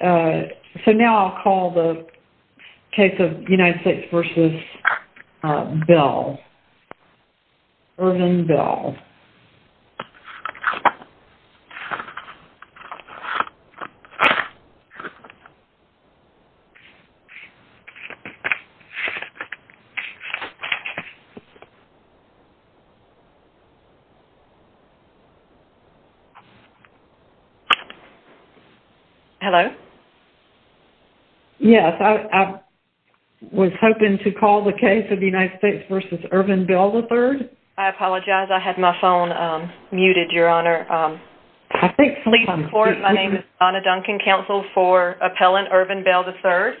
So now I'll call the case of United States v. Bell, Ervin Bell. Hello? Yes, I was hoping to call the case of United States v. Ervin Bell, III. I apologize. I had my phone muted, Your Honor. I think sleep comes first. My name is Donna Duncan, Counsel for Appellant Ervin Bell, III.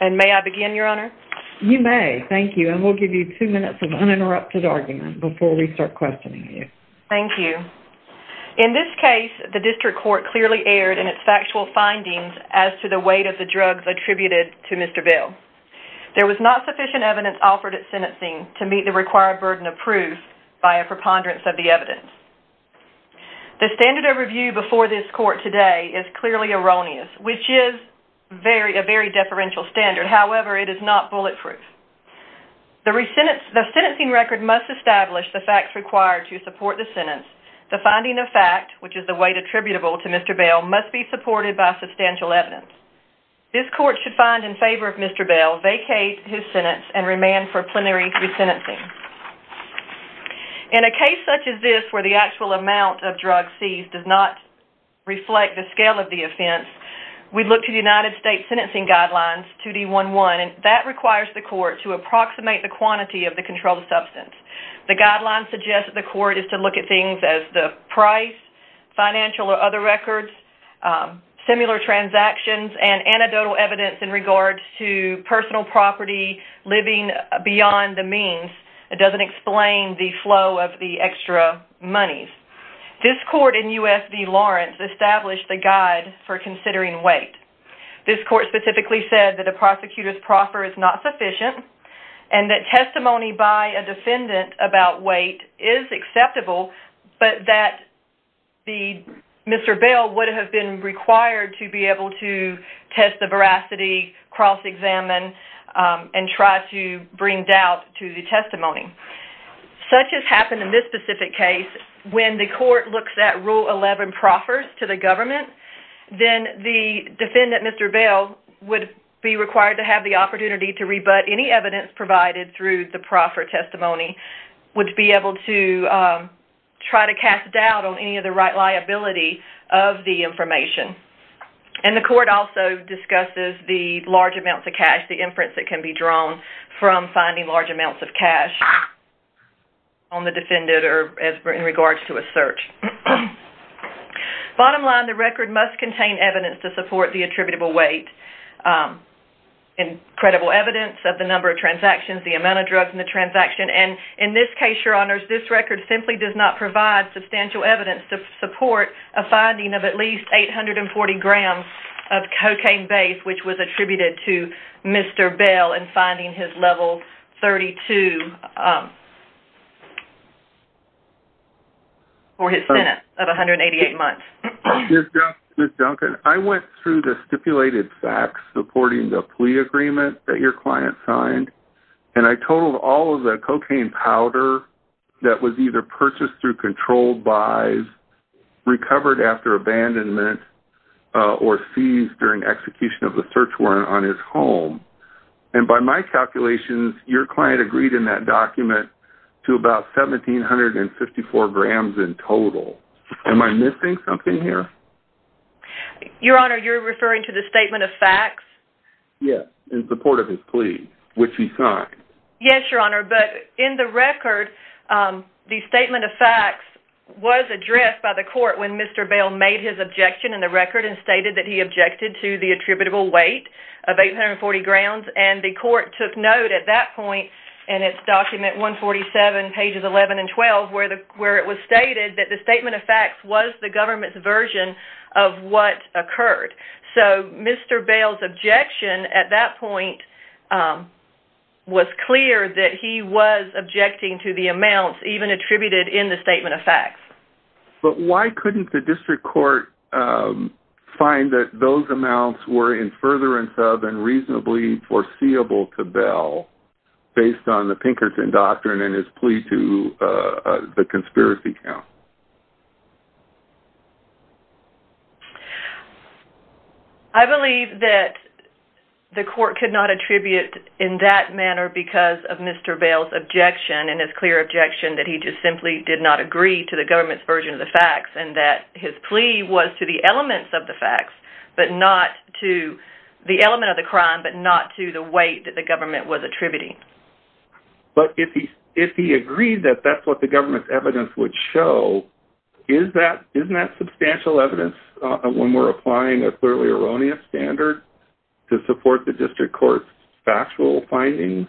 And may I begin, Your Honor? You may. Thank you. And we'll give you two minutes of uninterrupted argument before we start questioning you. Thank you. In this case, the District Court clearly erred in its factual findings as to the weight of the drugs attributed to Mr. Bell. There was not sufficient evidence offered at sentencing to meet the required burden of proof by a preponderance of the evidence. The standard of review before this Court today is clearly erroneous, which is a very deferential standard. However, it is not bulletproof. The sentencing record must establish the facts required to support the sentence. The finding of fact, which is the weight attributable to Mr. Bell, must be supported by substantial evidence. This Court should find in favor of Mr. Bell, vacate his sentence, and remand for plenary resentencing. In a case such as this, where the actual amount of drugs seized does not reflect the scale of the offense, we look to the United States Sentencing Guidelines, 2D11, and that requires the Court to approximate the quantity of the controlled substance. The guidelines suggest that the Court is to look at things as the price, financial or other records, similar transactions, and anecdotal evidence in regards to personal property living beyond the means. It doesn't explain the flow of the extra monies. This Court in U.S. v. Lawrence established the guide for considering weight. This Court specifically said that a prosecutor's proffer is not sufficient, and that testimony by a defendant about weight is acceptable, but that Mr. Bell would have been required to be able to test the veracity, cross-examine, and try to bring doubt to the testimony. Such has happened in this specific case. When the Court looks at Rule 11 proffers to the government, then the defendant, Mr. Bell, would be required to have the opportunity to rebut any evidence provided through the proffer testimony, would be able to try to cast doubt on any of the right liability of the information. The Court also discusses the large amounts of cash, the inference that can be drawn from finding large amounts of cash on the defendant in regards to a search. Bottom line, the record must contain evidence to support the attributable weight, and credible evidence of the number of transactions, the amount of drugs in the transaction. In this case, Your Honors, this record simply does not provide substantial evidence to support a finding of at least 840 grams of cocaine base, which was attributed to Mr. Bell in finding his level 32 for his sentence of 188 months. Ms. Duncan, I went through the stipulated facts supporting the plea agreement that your client signed, and I totaled all of the cocaine powder that was either purchased through controlled buys, recovered after abandonment, or seized during execution of the search warrant on his home. And by my calculations, your client agreed in that document to about 1,754 grams in total. Am I missing something here? Your Honor, you're referring to the statement of facts? Yes, in support of his plea, which he signed. Yes, Your Honor, but in the record, the statement of facts was addressed by the court when Mr. Bell made his objection in the record and stated that he objected to the attributable weight of 840 grams, and the court took note at that point in its document 147, pages 11 and 12, where it was stated that the statement of facts was the government's version of what occurred. So Mr. Bell's objection at that point was clear that he was objecting to the amounts even attributed in the statement of facts. But why couldn't the district court find that those amounts were in furtherance of and reasonably foreseeable to Bell based on the Pinkerton Doctrine and his plea to the conspiracy counsel? I believe that the court could not attribute in that manner because of Mr. Bell's objection and his clear objection that he just simply did not agree to the government's version of the facts and that his plea was to the elements of the facts, but not to the element of the crime, but not to the weight that the government was attributing. But if he agreed that that's what the government's evidence would show, isn't that substantial evidence when we're applying a clearly erroneous standard to support the district court's factual findings?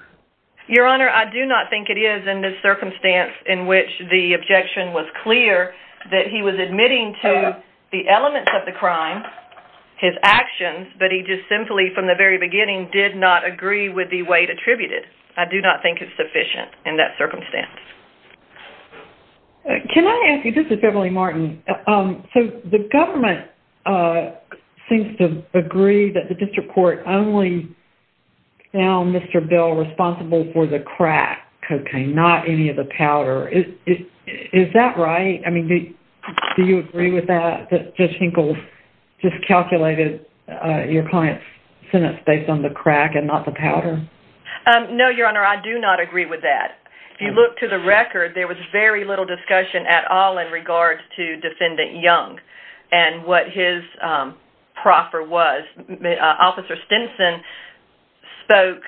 Your Honor, I do not think it is in this circumstance in which the objection was clear that he was admitting to the elements of the crime, his actions, but he just simply from the very beginning did not agree with the weight attributed. I do not think it's sufficient in that circumstance. Can I ask you, this is Beverly Martin, so the government seems to agree that the district court only found Mr. Bell responsible for the crack cocaine, not any of the powder. Is that right? I mean, do you agree with that, that Judge Hinkle just calculated your client's sentence based on the crack and not the powder? No, Your Honor, I do not agree with that. If you look to the record, there was very little discussion at all in regards to Defendant Young and what his proffer was. Officer Stinson spoke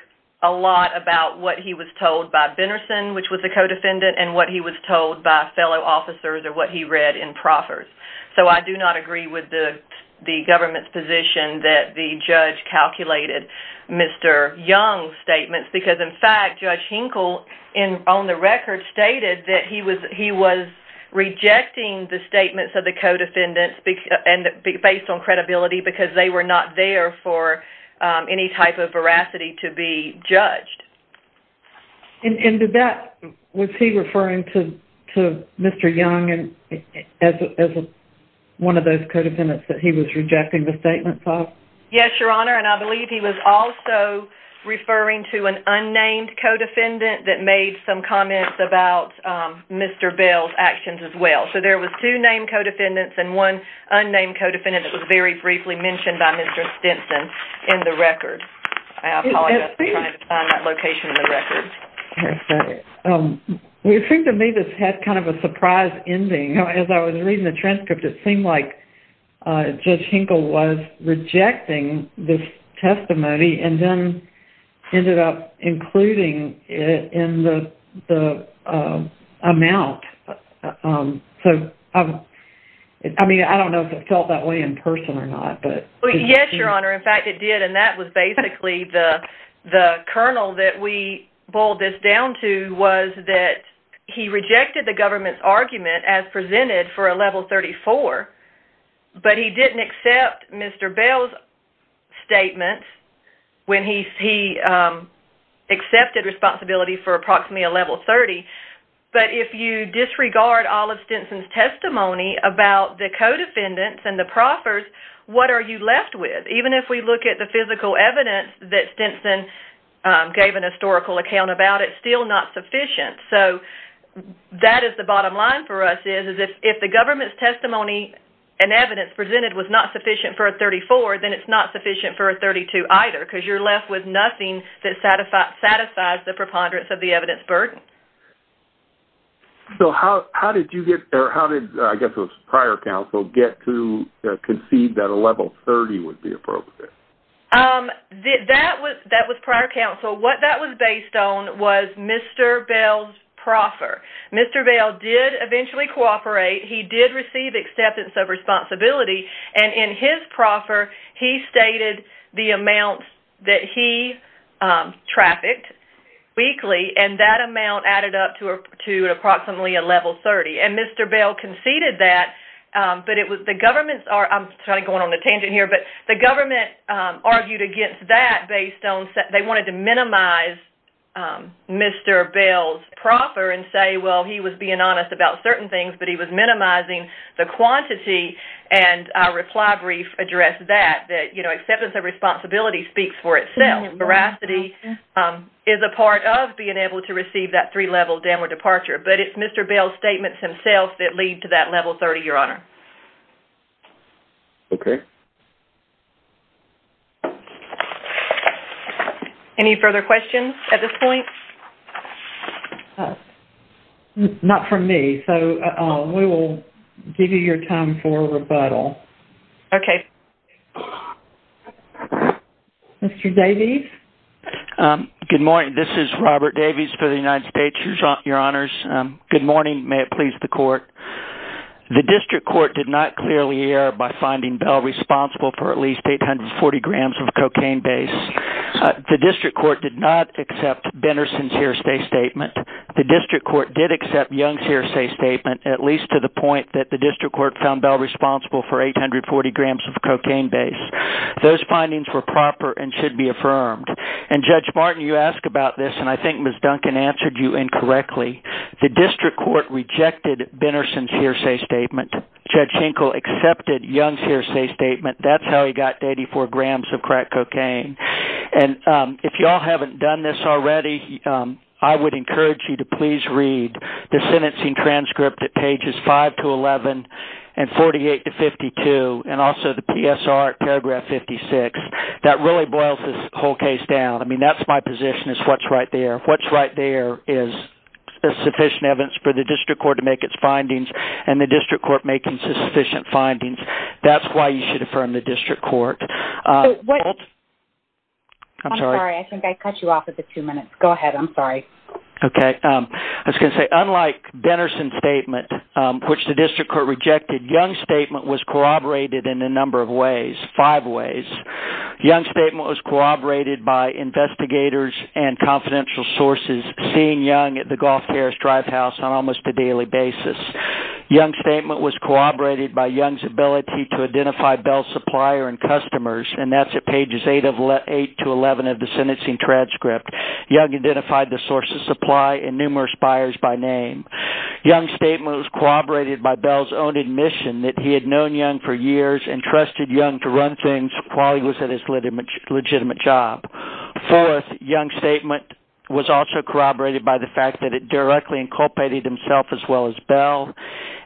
a lot about what he was told by Benerson, which was the co-defendant, and what he was told by fellow officers or what he read in proffers. So I do not agree with the government's position that the judge calculated Mr. Young's statements, because in fact, Judge Hinkle on the record stated that he was rejecting the statements of the co-defendants based on credibility because they were not there for any type of veracity to be judged. And was he referring to Mr. Young as one of those co-defendants that he was rejecting the statements of? Yes, Your Honor, and I believe he was also referring to an unnamed co-defendant that made some comments about Mr. Bell's actions as well. So there was two named co-defendants and one unnamed co-defendant that was very briefly mentioned by Mr. Stinson in the record. I apologize for trying to find that location in the record. It seemed to me this had kind of a surprise ending. As I was reading the transcript, it seemed like Judge Hinkle was rejecting this testimony and then ended up including it in the amount. So, I mean, I don't know if it felt that way in person or not. Yes, Your Honor, in fact it did, and that was basically the kernel that we boiled this down to was that he rejected the government's argument as presented for a level 34, but he didn't accept Mr. Bell's statements when he accepted responsibility for approximately a level 30. But if you disregard all of Stinson's testimony about the co-defendants and the proffers, what are you left with? Even if we look at the physical evidence that Stinson gave an historical account about, it's still not sufficient. So that is the bottom line for us is if the government's testimony and evidence presented was not sufficient for a 34, then it's not sufficient for a 32 either because you're left with nothing that satisfies the preponderance of the evidence burden. So how did you get, or how did I guess it was prior counsel, get to conceive that a level 30 would be appropriate? That was prior counsel. What that was based on was Mr. Bell's proffer. Mr. Bell did eventually cooperate. He did receive acceptance of responsibility, and in his proffer he stated the amount that he trafficked weekly, and that amount added up to approximately a level 30. And Mr. Bell conceded that, but the government argued against that based on they wanted to minimize Mr. Bell's proffer and say, well, he was being honest about certain things, but he was minimizing the quantity, and our reply brief addressed that, that acceptance of responsibility speaks for itself. Veracity is a part of being able to receive that three-level dam or departure, but it's Mr. Bell's statements himself that lead to that level 30, Your Honor. Okay. Any further questions at this point? Not from me. So we will give you your time for rebuttal. Okay. Mr. Davies? Good morning. This is Robert Davies for the United States, Your Honors. Good morning. May it please the Court. The district court did not clearly err by finding Bell responsible for at least 840 grams of cocaine base. The district court did not accept Benerson's hearsay statement. The district court did accept Young's hearsay statement, at least to the point that the district court found Bell responsible for 840 grams of cocaine base. Those findings were proper and should be affirmed. And Judge Martin, you ask about this, and I think Ms. Duncan answered you incorrectly. The district court rejected Benerson's hearsay statement. Judge Hinkle accepted Young's hearsay statement. That's how he got 84 grams of crack cocaine. And if you all haven't done this already, I would encourage you to please read the sentencing transcript at pages 5-11 and 48-52, and also the PSR at paragraph 56. That really boils this whole case down. I mean, that's my position is what's right there. What's right there is sufficient evidence for the district court to make its findings, and the district court making sufficient findings. That's why you should affirm the district court. I'm sorry. I think I cut you off at the two minutes. Go ahead. I'm sorry. Okay. I was going to say, unlike Benerson's statement, which the district court rejected, Young's statement was corroborated in a number of ways, five ways. Young's statement was corroborated by investigators and confidential sources seeing Young at the Gulf Terrace Drivehouse on almost a daily basis. Young's statement was corroborated by Young's ability to identify Bell's supplier and customers, and that's at pages 8-11 of the sentencing transcript. Young identified the source of supply and numerous buyers by name. Young's statement was corroborated by Bell's own admission that he had known Young for years and trusted Young to run things while he was at his legitimate job. Fourth, Young's statement was also corroborated by the fact that it directly inculpated himself as well as Bell,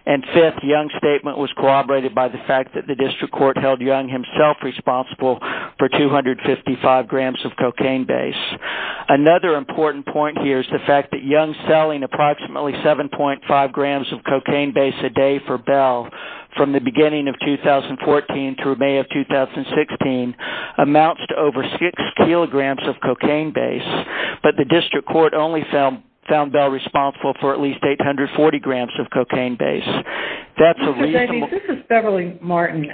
and fifth, Young's statement was corroborated by the fact that the district court held Young himself responsible for 255 grams of cocaine base. Another important point here is the fact that Young's selling approximately 7.5 grams of cocaine base a day for Bell from the beginning of 2014 through May of 2016 amounts to over 6 kilograms of cocaine base, but the district court only found Bell responsible for at least 840 grams of cocaine base. That's a reasonable... Mr. Davies, this is Beverly Martin.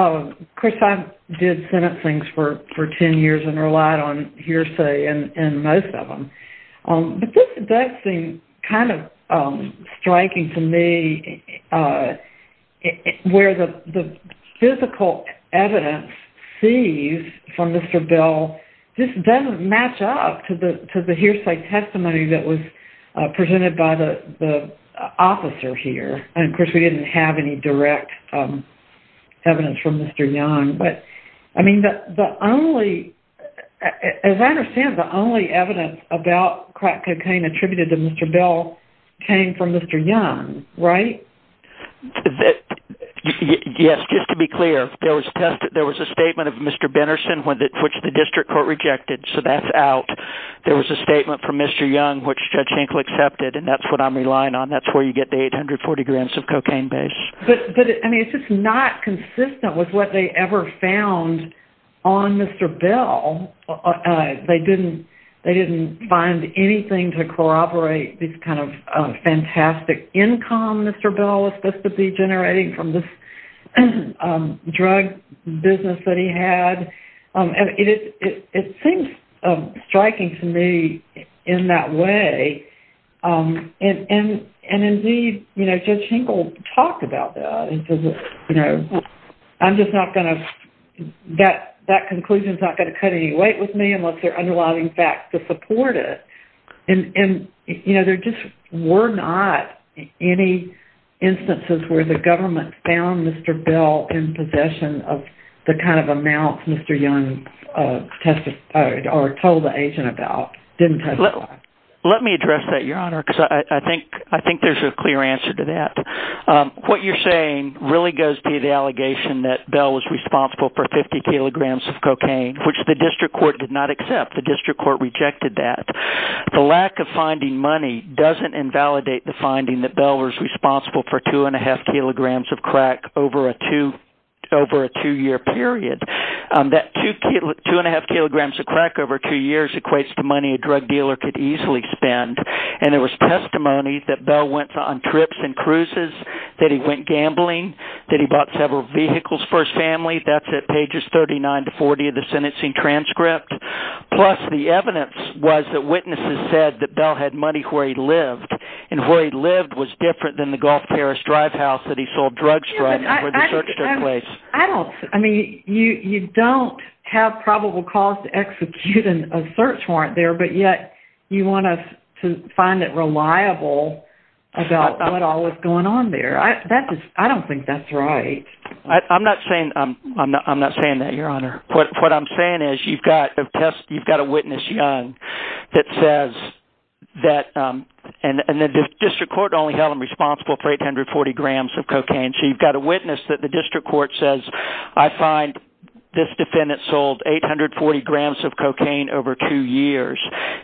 Of course, I did sentencings for 10 years and relied on hearsay in most of them, but this does seem kind of striking to me where the physical evidence seized from Mr. Bell just doesn't match up to the hearsay testimony that was presented by the officer here. And, of course, we didn't have any direct evidence from Mr. Young, but, I mean, the only... As I understand, the only evidence about crack cocaine attributed to Mr. Bell came from Mr. Young, right? Yes, just to be clear, there was a statement of Mr. Benerson, which the district court rejected, so that's out. There was a statement from Mr. Young, which Judge Hinkle accepted, and that's what I'm relying on. That's where you get the 840 grams of cocaine base. But, I mean, it's just not consistent with what they ever found on Mr. Bell. They didn't find anything to corroborate this kind of fantastic income Mr. Bell was supposed to be generating from this drug business that he had. It seems striking to me in that way, and, indeed, Judge Hinkle talked about that. I'm just not going to... That conclusion is not going to cut any weight with me unless there are underlying facts to support it. And, you know, there just were not any instances where the government found Mr. Bell in possession of the kind of amounts Mr. Young testified or told the agent about. Let me address that, Your Honor, because I think there's a clear answer to that. What you're saying really goes to the allegation that Bell was responsible for 50 kilograms of cocaine, which the district court did not accept. The district court rejected that. The lack of finding money doesn't invalidate the finding that Bell was responsible for 2.5 kilograms of crack over a two-year period. That 2.5 kilograms of crack over two years equates to money a drug dealer could easily spend. And there was testimony that Bell went on trips and cruises, that he went gambling, that he bought several vehicles for his family. That's at pages 39 to 40 of the sentencing transcript. Plus, the evidence was that witnesses said that Bell had money where he lived. And where he lived was different than the Gulf Paris drive house that he sold drugs from and where the search took place. You don't have probable cause to execute a search warrant there, but yet you want us to find it reliable about what all was going on there. I don't think that's right. I'm not saying that, Your Honor. What I'm saying is you've got a witness, Young, that says that the district court only held him responsible for 840 grams of cocaine. So you've got a witness that the district court says, I find this defendant sold 840 grams of cocaine over two years.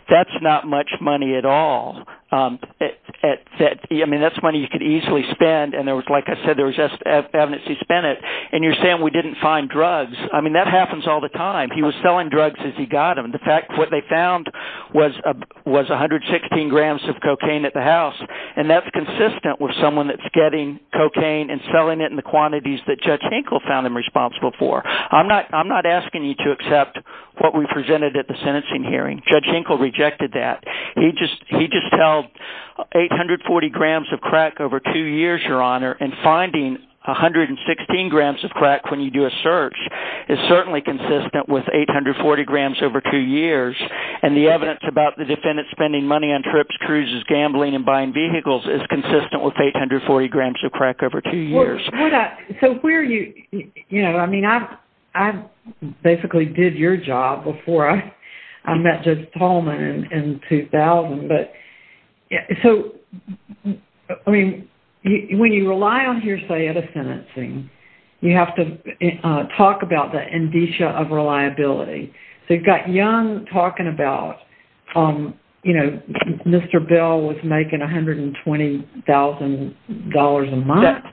That's not much money at all. I mean, that's money you could easily spend. And like I said, there was evidence he spent it. And you're saying we didn't find drugs. I mean, that happens all the time. He was selling drugs as he got them. In fact, what they found was 116 grams of cocaine at the house. And that's consistent with someone that's getting cocaine and selling it in the quantities that Judge Hinkle found him responsible for. I'm not asking you to accept what we presented at the sentencing hearing. Judge Hinkle rejected that. He just held 840 grams of crack over two years, Your Honor. And finding 116 grams of crack when you do a search is certainly consistent with 840 grams over two years. And the evidence about the defendant spending money on trips, cruises, gambling, and buying vehicles is consistent with 840 grams of crack over two years. So where are you, you know, I mean, I basically did your job before I met Judge Tallman in 2000. But so, I mean, when you rely on hearsay at a sentencing, you have to talk about the indicia of reliability. So you've got Young talking about, you know, Mr. Bell was making $120,000 a month.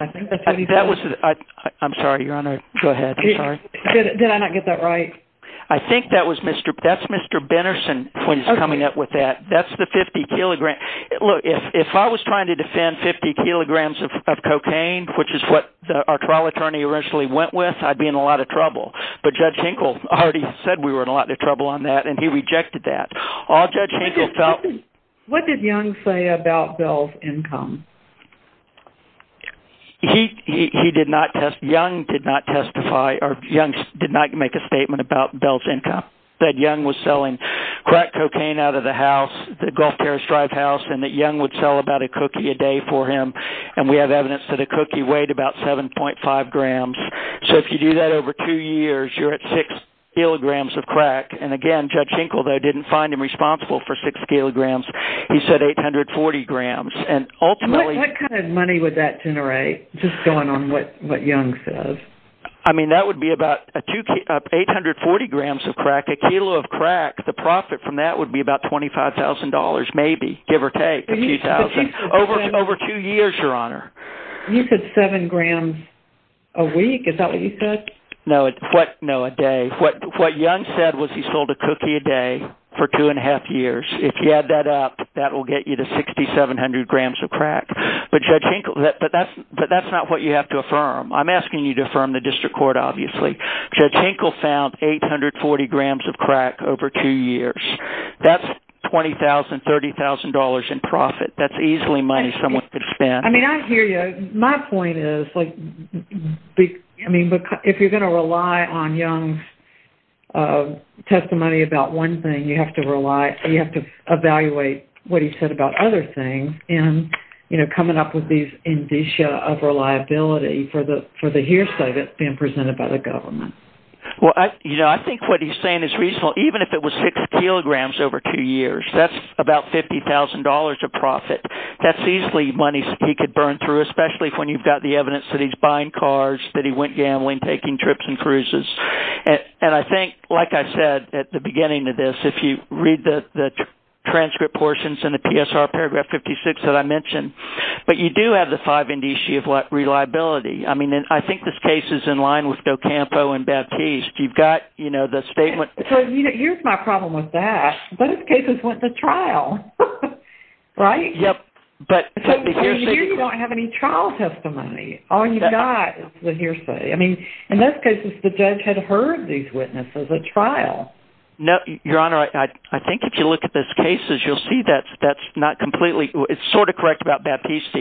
I'm sorry, Your Honor. Go ahead. I'm sorry. Did I not get that right? I think that's Mr. Benerson when he's coming up with that. That's the 50 kilograms. Look, if I was trying to defend 50 kilograms of cocaine, which is what our trial attorney originally went with, I'd be in a lot of trouble. But Judge Hinkle already said we were in a lot of trouble on that, and he rejected that. What did Young say about Bell's income? Young did not testify or Young did not make a statement about Bell's income. That Young was selling crack cocaine out of the house, the Gulf Terrace Drive house, and that Young would sell about a cookie a day for him. And we have evidence that a cookie weighed about 7.5 grams. So if you do that over two years, you're at 6 kilograms of crack. And, again, Judge Hinkle, though, didn't find him responsible for 6 kilograms. He said 840 grams. What kind of money would that generate, just going on what Young says? I mean, that would be about 840 grams of crack. A kilo of crack, the profit from that would be about $25,000, maybe, give or take, a few thousand. Over two years, Your Honor. You said 7 grams a week. Is that what you said? No, a day. What Young said was he sold a cookie a day for two and a half years. If you add that up, that will get you to 6,700 grams of crack. But, Judge Hinkle, that's not what you have to affirm. I'm asking you to affirm the district court, obviously. Judge Hinkle found 840 grams of crack over two years. That's $20,000, $30,000 in profit. That's easily money someone could spend. I hear you. My point is, if you're going to rely on Young's testimony about one thing, you have to evaluate what he said about other things in coming up with these indicia of reliability for the hearsay that's being presented by the government. I think what he's saying is reasonable. Even if it was 6 kilograms over two years, that's about $50,000 of profit. That's easily money he could burn through, especially when you've got the evidence that he's buying cars, that he went gambling, taking trips and cruises. I think, like I said at the beginning of this, if you read the transcript portions in the PSR paragraph 56 that I mentioned, you do have the five indicia of reliability. I think this case is in line with Docampo and Baptiste. You've got the statement. Here's my problem with that. Both cases went to trial, right? Yep. Here you don't have any trial testimony. All you've got is the hearsay. In those cases, the judge had heard these witnesses at trial. Your Honor, I think if you look at those cases, you'll see that's not completely. It's sort of correct about Baptiste.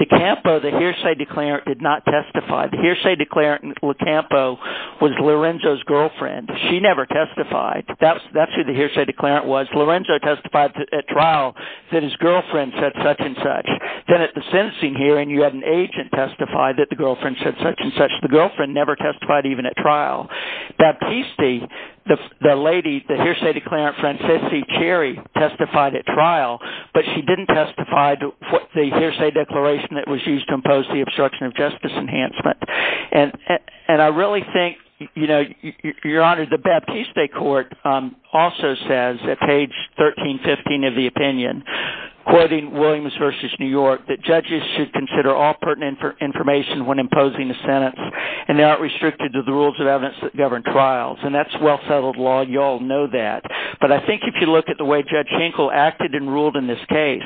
Docampo, the hearsay declarant, did not testify. The hearsay declarant, Docampo, was Lorenzo's girlfriend. She never testified. That's who the hearsay declarant was. Lorenzo testified at trial that his girlfriend said such-and-such. Then at the sentencing hearing, you had an agent testify that the girlfriend said such-and-such. The girlfriend never testified even at trial. Baptiste, the lady, the hearsay declarant, Francese Cherry, testified at trial, but she didn't testify to the hearsay declaration that was used to impose the obstruction of justice enhancement. I really think, Your Honor, the Baptiste Court also says at page 1315 of the opinion, quoting Williams v. New York, that judges should consider all pertinent information when imposing a sentence, and they aren't restricted to the rules of evidence that govern trials. That's well-settled law. You all know that. But I think if you look at the way Judge Hankel acted and ruled in this case,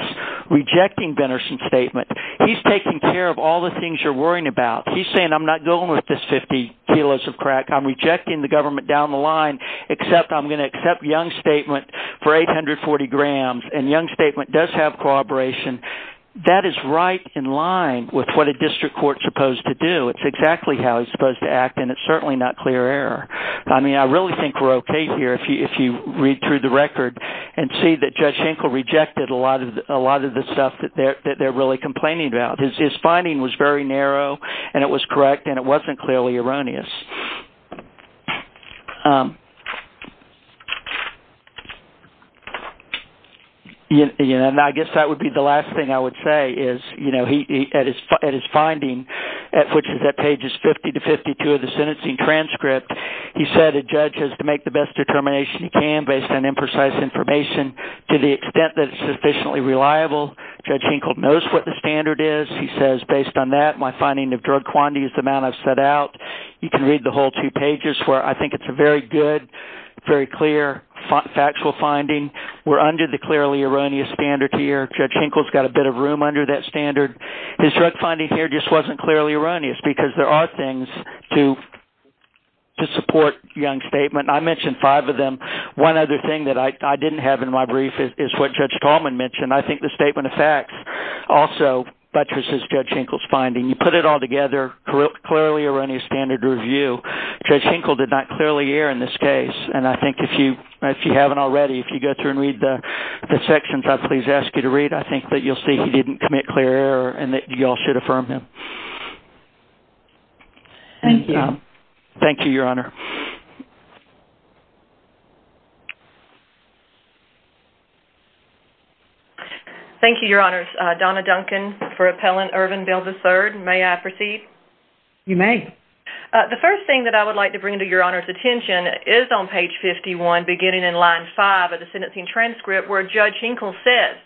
rejecting Benerson's statement, he's taking care of all the things you're worrying about. He's saying, I'm not going with this 50 kilos of crack. I'm rejecting the government down the line, except I'm going to accept Young's statement for 840 grams. And Young's statement does have corroboration. That is right in line with what a district court is supposed to do. It's exactly how it's supposed to act, and it's certainly not clear error. I mean, I really think we're okay here if you read through the record and see that Judge Hankel rejected a lot of the stuff that they're really complaining about. His finding was very narrow, and it was correct, and it wasn't clearly erroneous. And I guess that would be the last thing I would say is, at his finding, which is at pages 50 to 52 of the sentencing transcript, he said a judge has to make the best determination he can based on imprecise information to the extent that it's sufficiently reliable. Judge Hankel knows what the standard is. He says, based on that, my finding of drug quantity is the amount I've set out. You can read the whole two pages where I think it's a very good, very clear factual finding. We're under the clearly erroneous standard here. Judge Hankel's got a bit of room under that standard. His drug finding here just wasn't clearly erroneous, because there are things to support Young's statement. I mentioned five of them. One other thing that I didn't have in my brief is what Judge Tallman mentioned. I think the statement of facts also buttresses Judge Hankel's finding. You put it all together, clearly erroneous standard review. Judge Hankel did not clearly err in this case, and I think if you haven't already, if you go through and read the sections I've please asked you to read, I think that you'll see he didn't commit clear error and that you all should affirm him. Thank you. Thank you, Your Honor. Thank you, Your Honor. Donna Duncan for Appellant Irvin Belvis III. May I proceed? You may. The first thing that I would like to bring to Your Honor's attention is on page 51, beginning in line 5 of the sentencing transcript, where Judge Hankel says,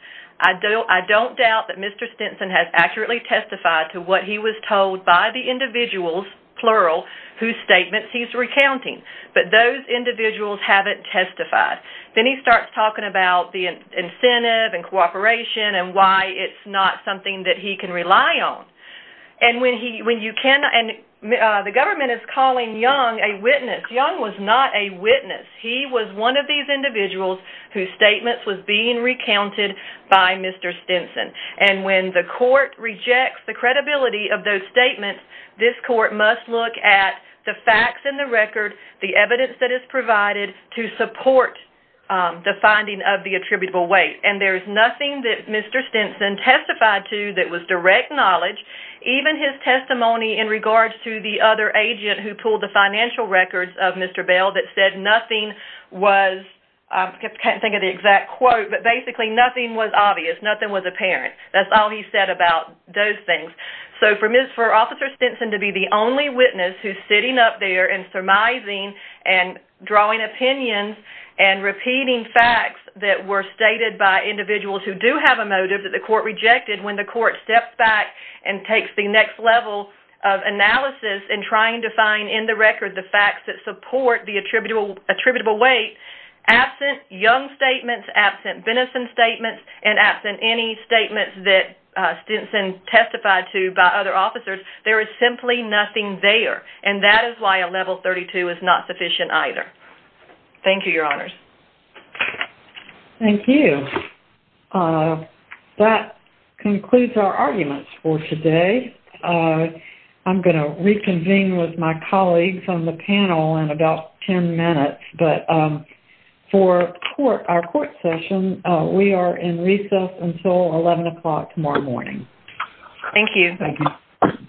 I don't doubt that Mr. Stinson has accurately testified to what he was told by the individuals, plural, whose statements he's recounting, but those individuals haven't testified. Then he starts talking about the incentive and cooperation and why it's not something that he can rely on. And the government is calling Young a witness. Young was not a witness. He was one of these individuals whose statements was being recounted by Mr. Stinson. And when the court rejects the credibility of those statements, this court must look at the facts and the record, the evidence that is provided to support the finding of the attributable weight. And there is nothing that Mr. Stinson testified to that was direct knowledge, even his testimony in regards to the other agent who pulled the financial records of Mr. Bell that said nothing was, I can't think of the exact quote, but basically nothing was obvious, nothing was apparent. That's all he said about those things. So for Officer Stinson to be the only witness who's sitting up there and surmising and drawing opinions and repeating facts that were stated by individuals who do have a motive that the court rejected when the court steps back and takes the next level of analysis and trying to find in the record the facts that support the attributable weight, absent Young's statements, absent Benenson's statements, and absent any statements that Stinson testified to by other officers, there is simply nothing there. And that is why a level 32 is not sufficient either. Thank you, Your Honors. Thank you. That concludes our arguments for today. I'm going to reconvene with my colleagues on the panel in about 10 minutes. But for our court session, we are in recess until 11 o'clock tomorrow morning. Thank you. Thank you.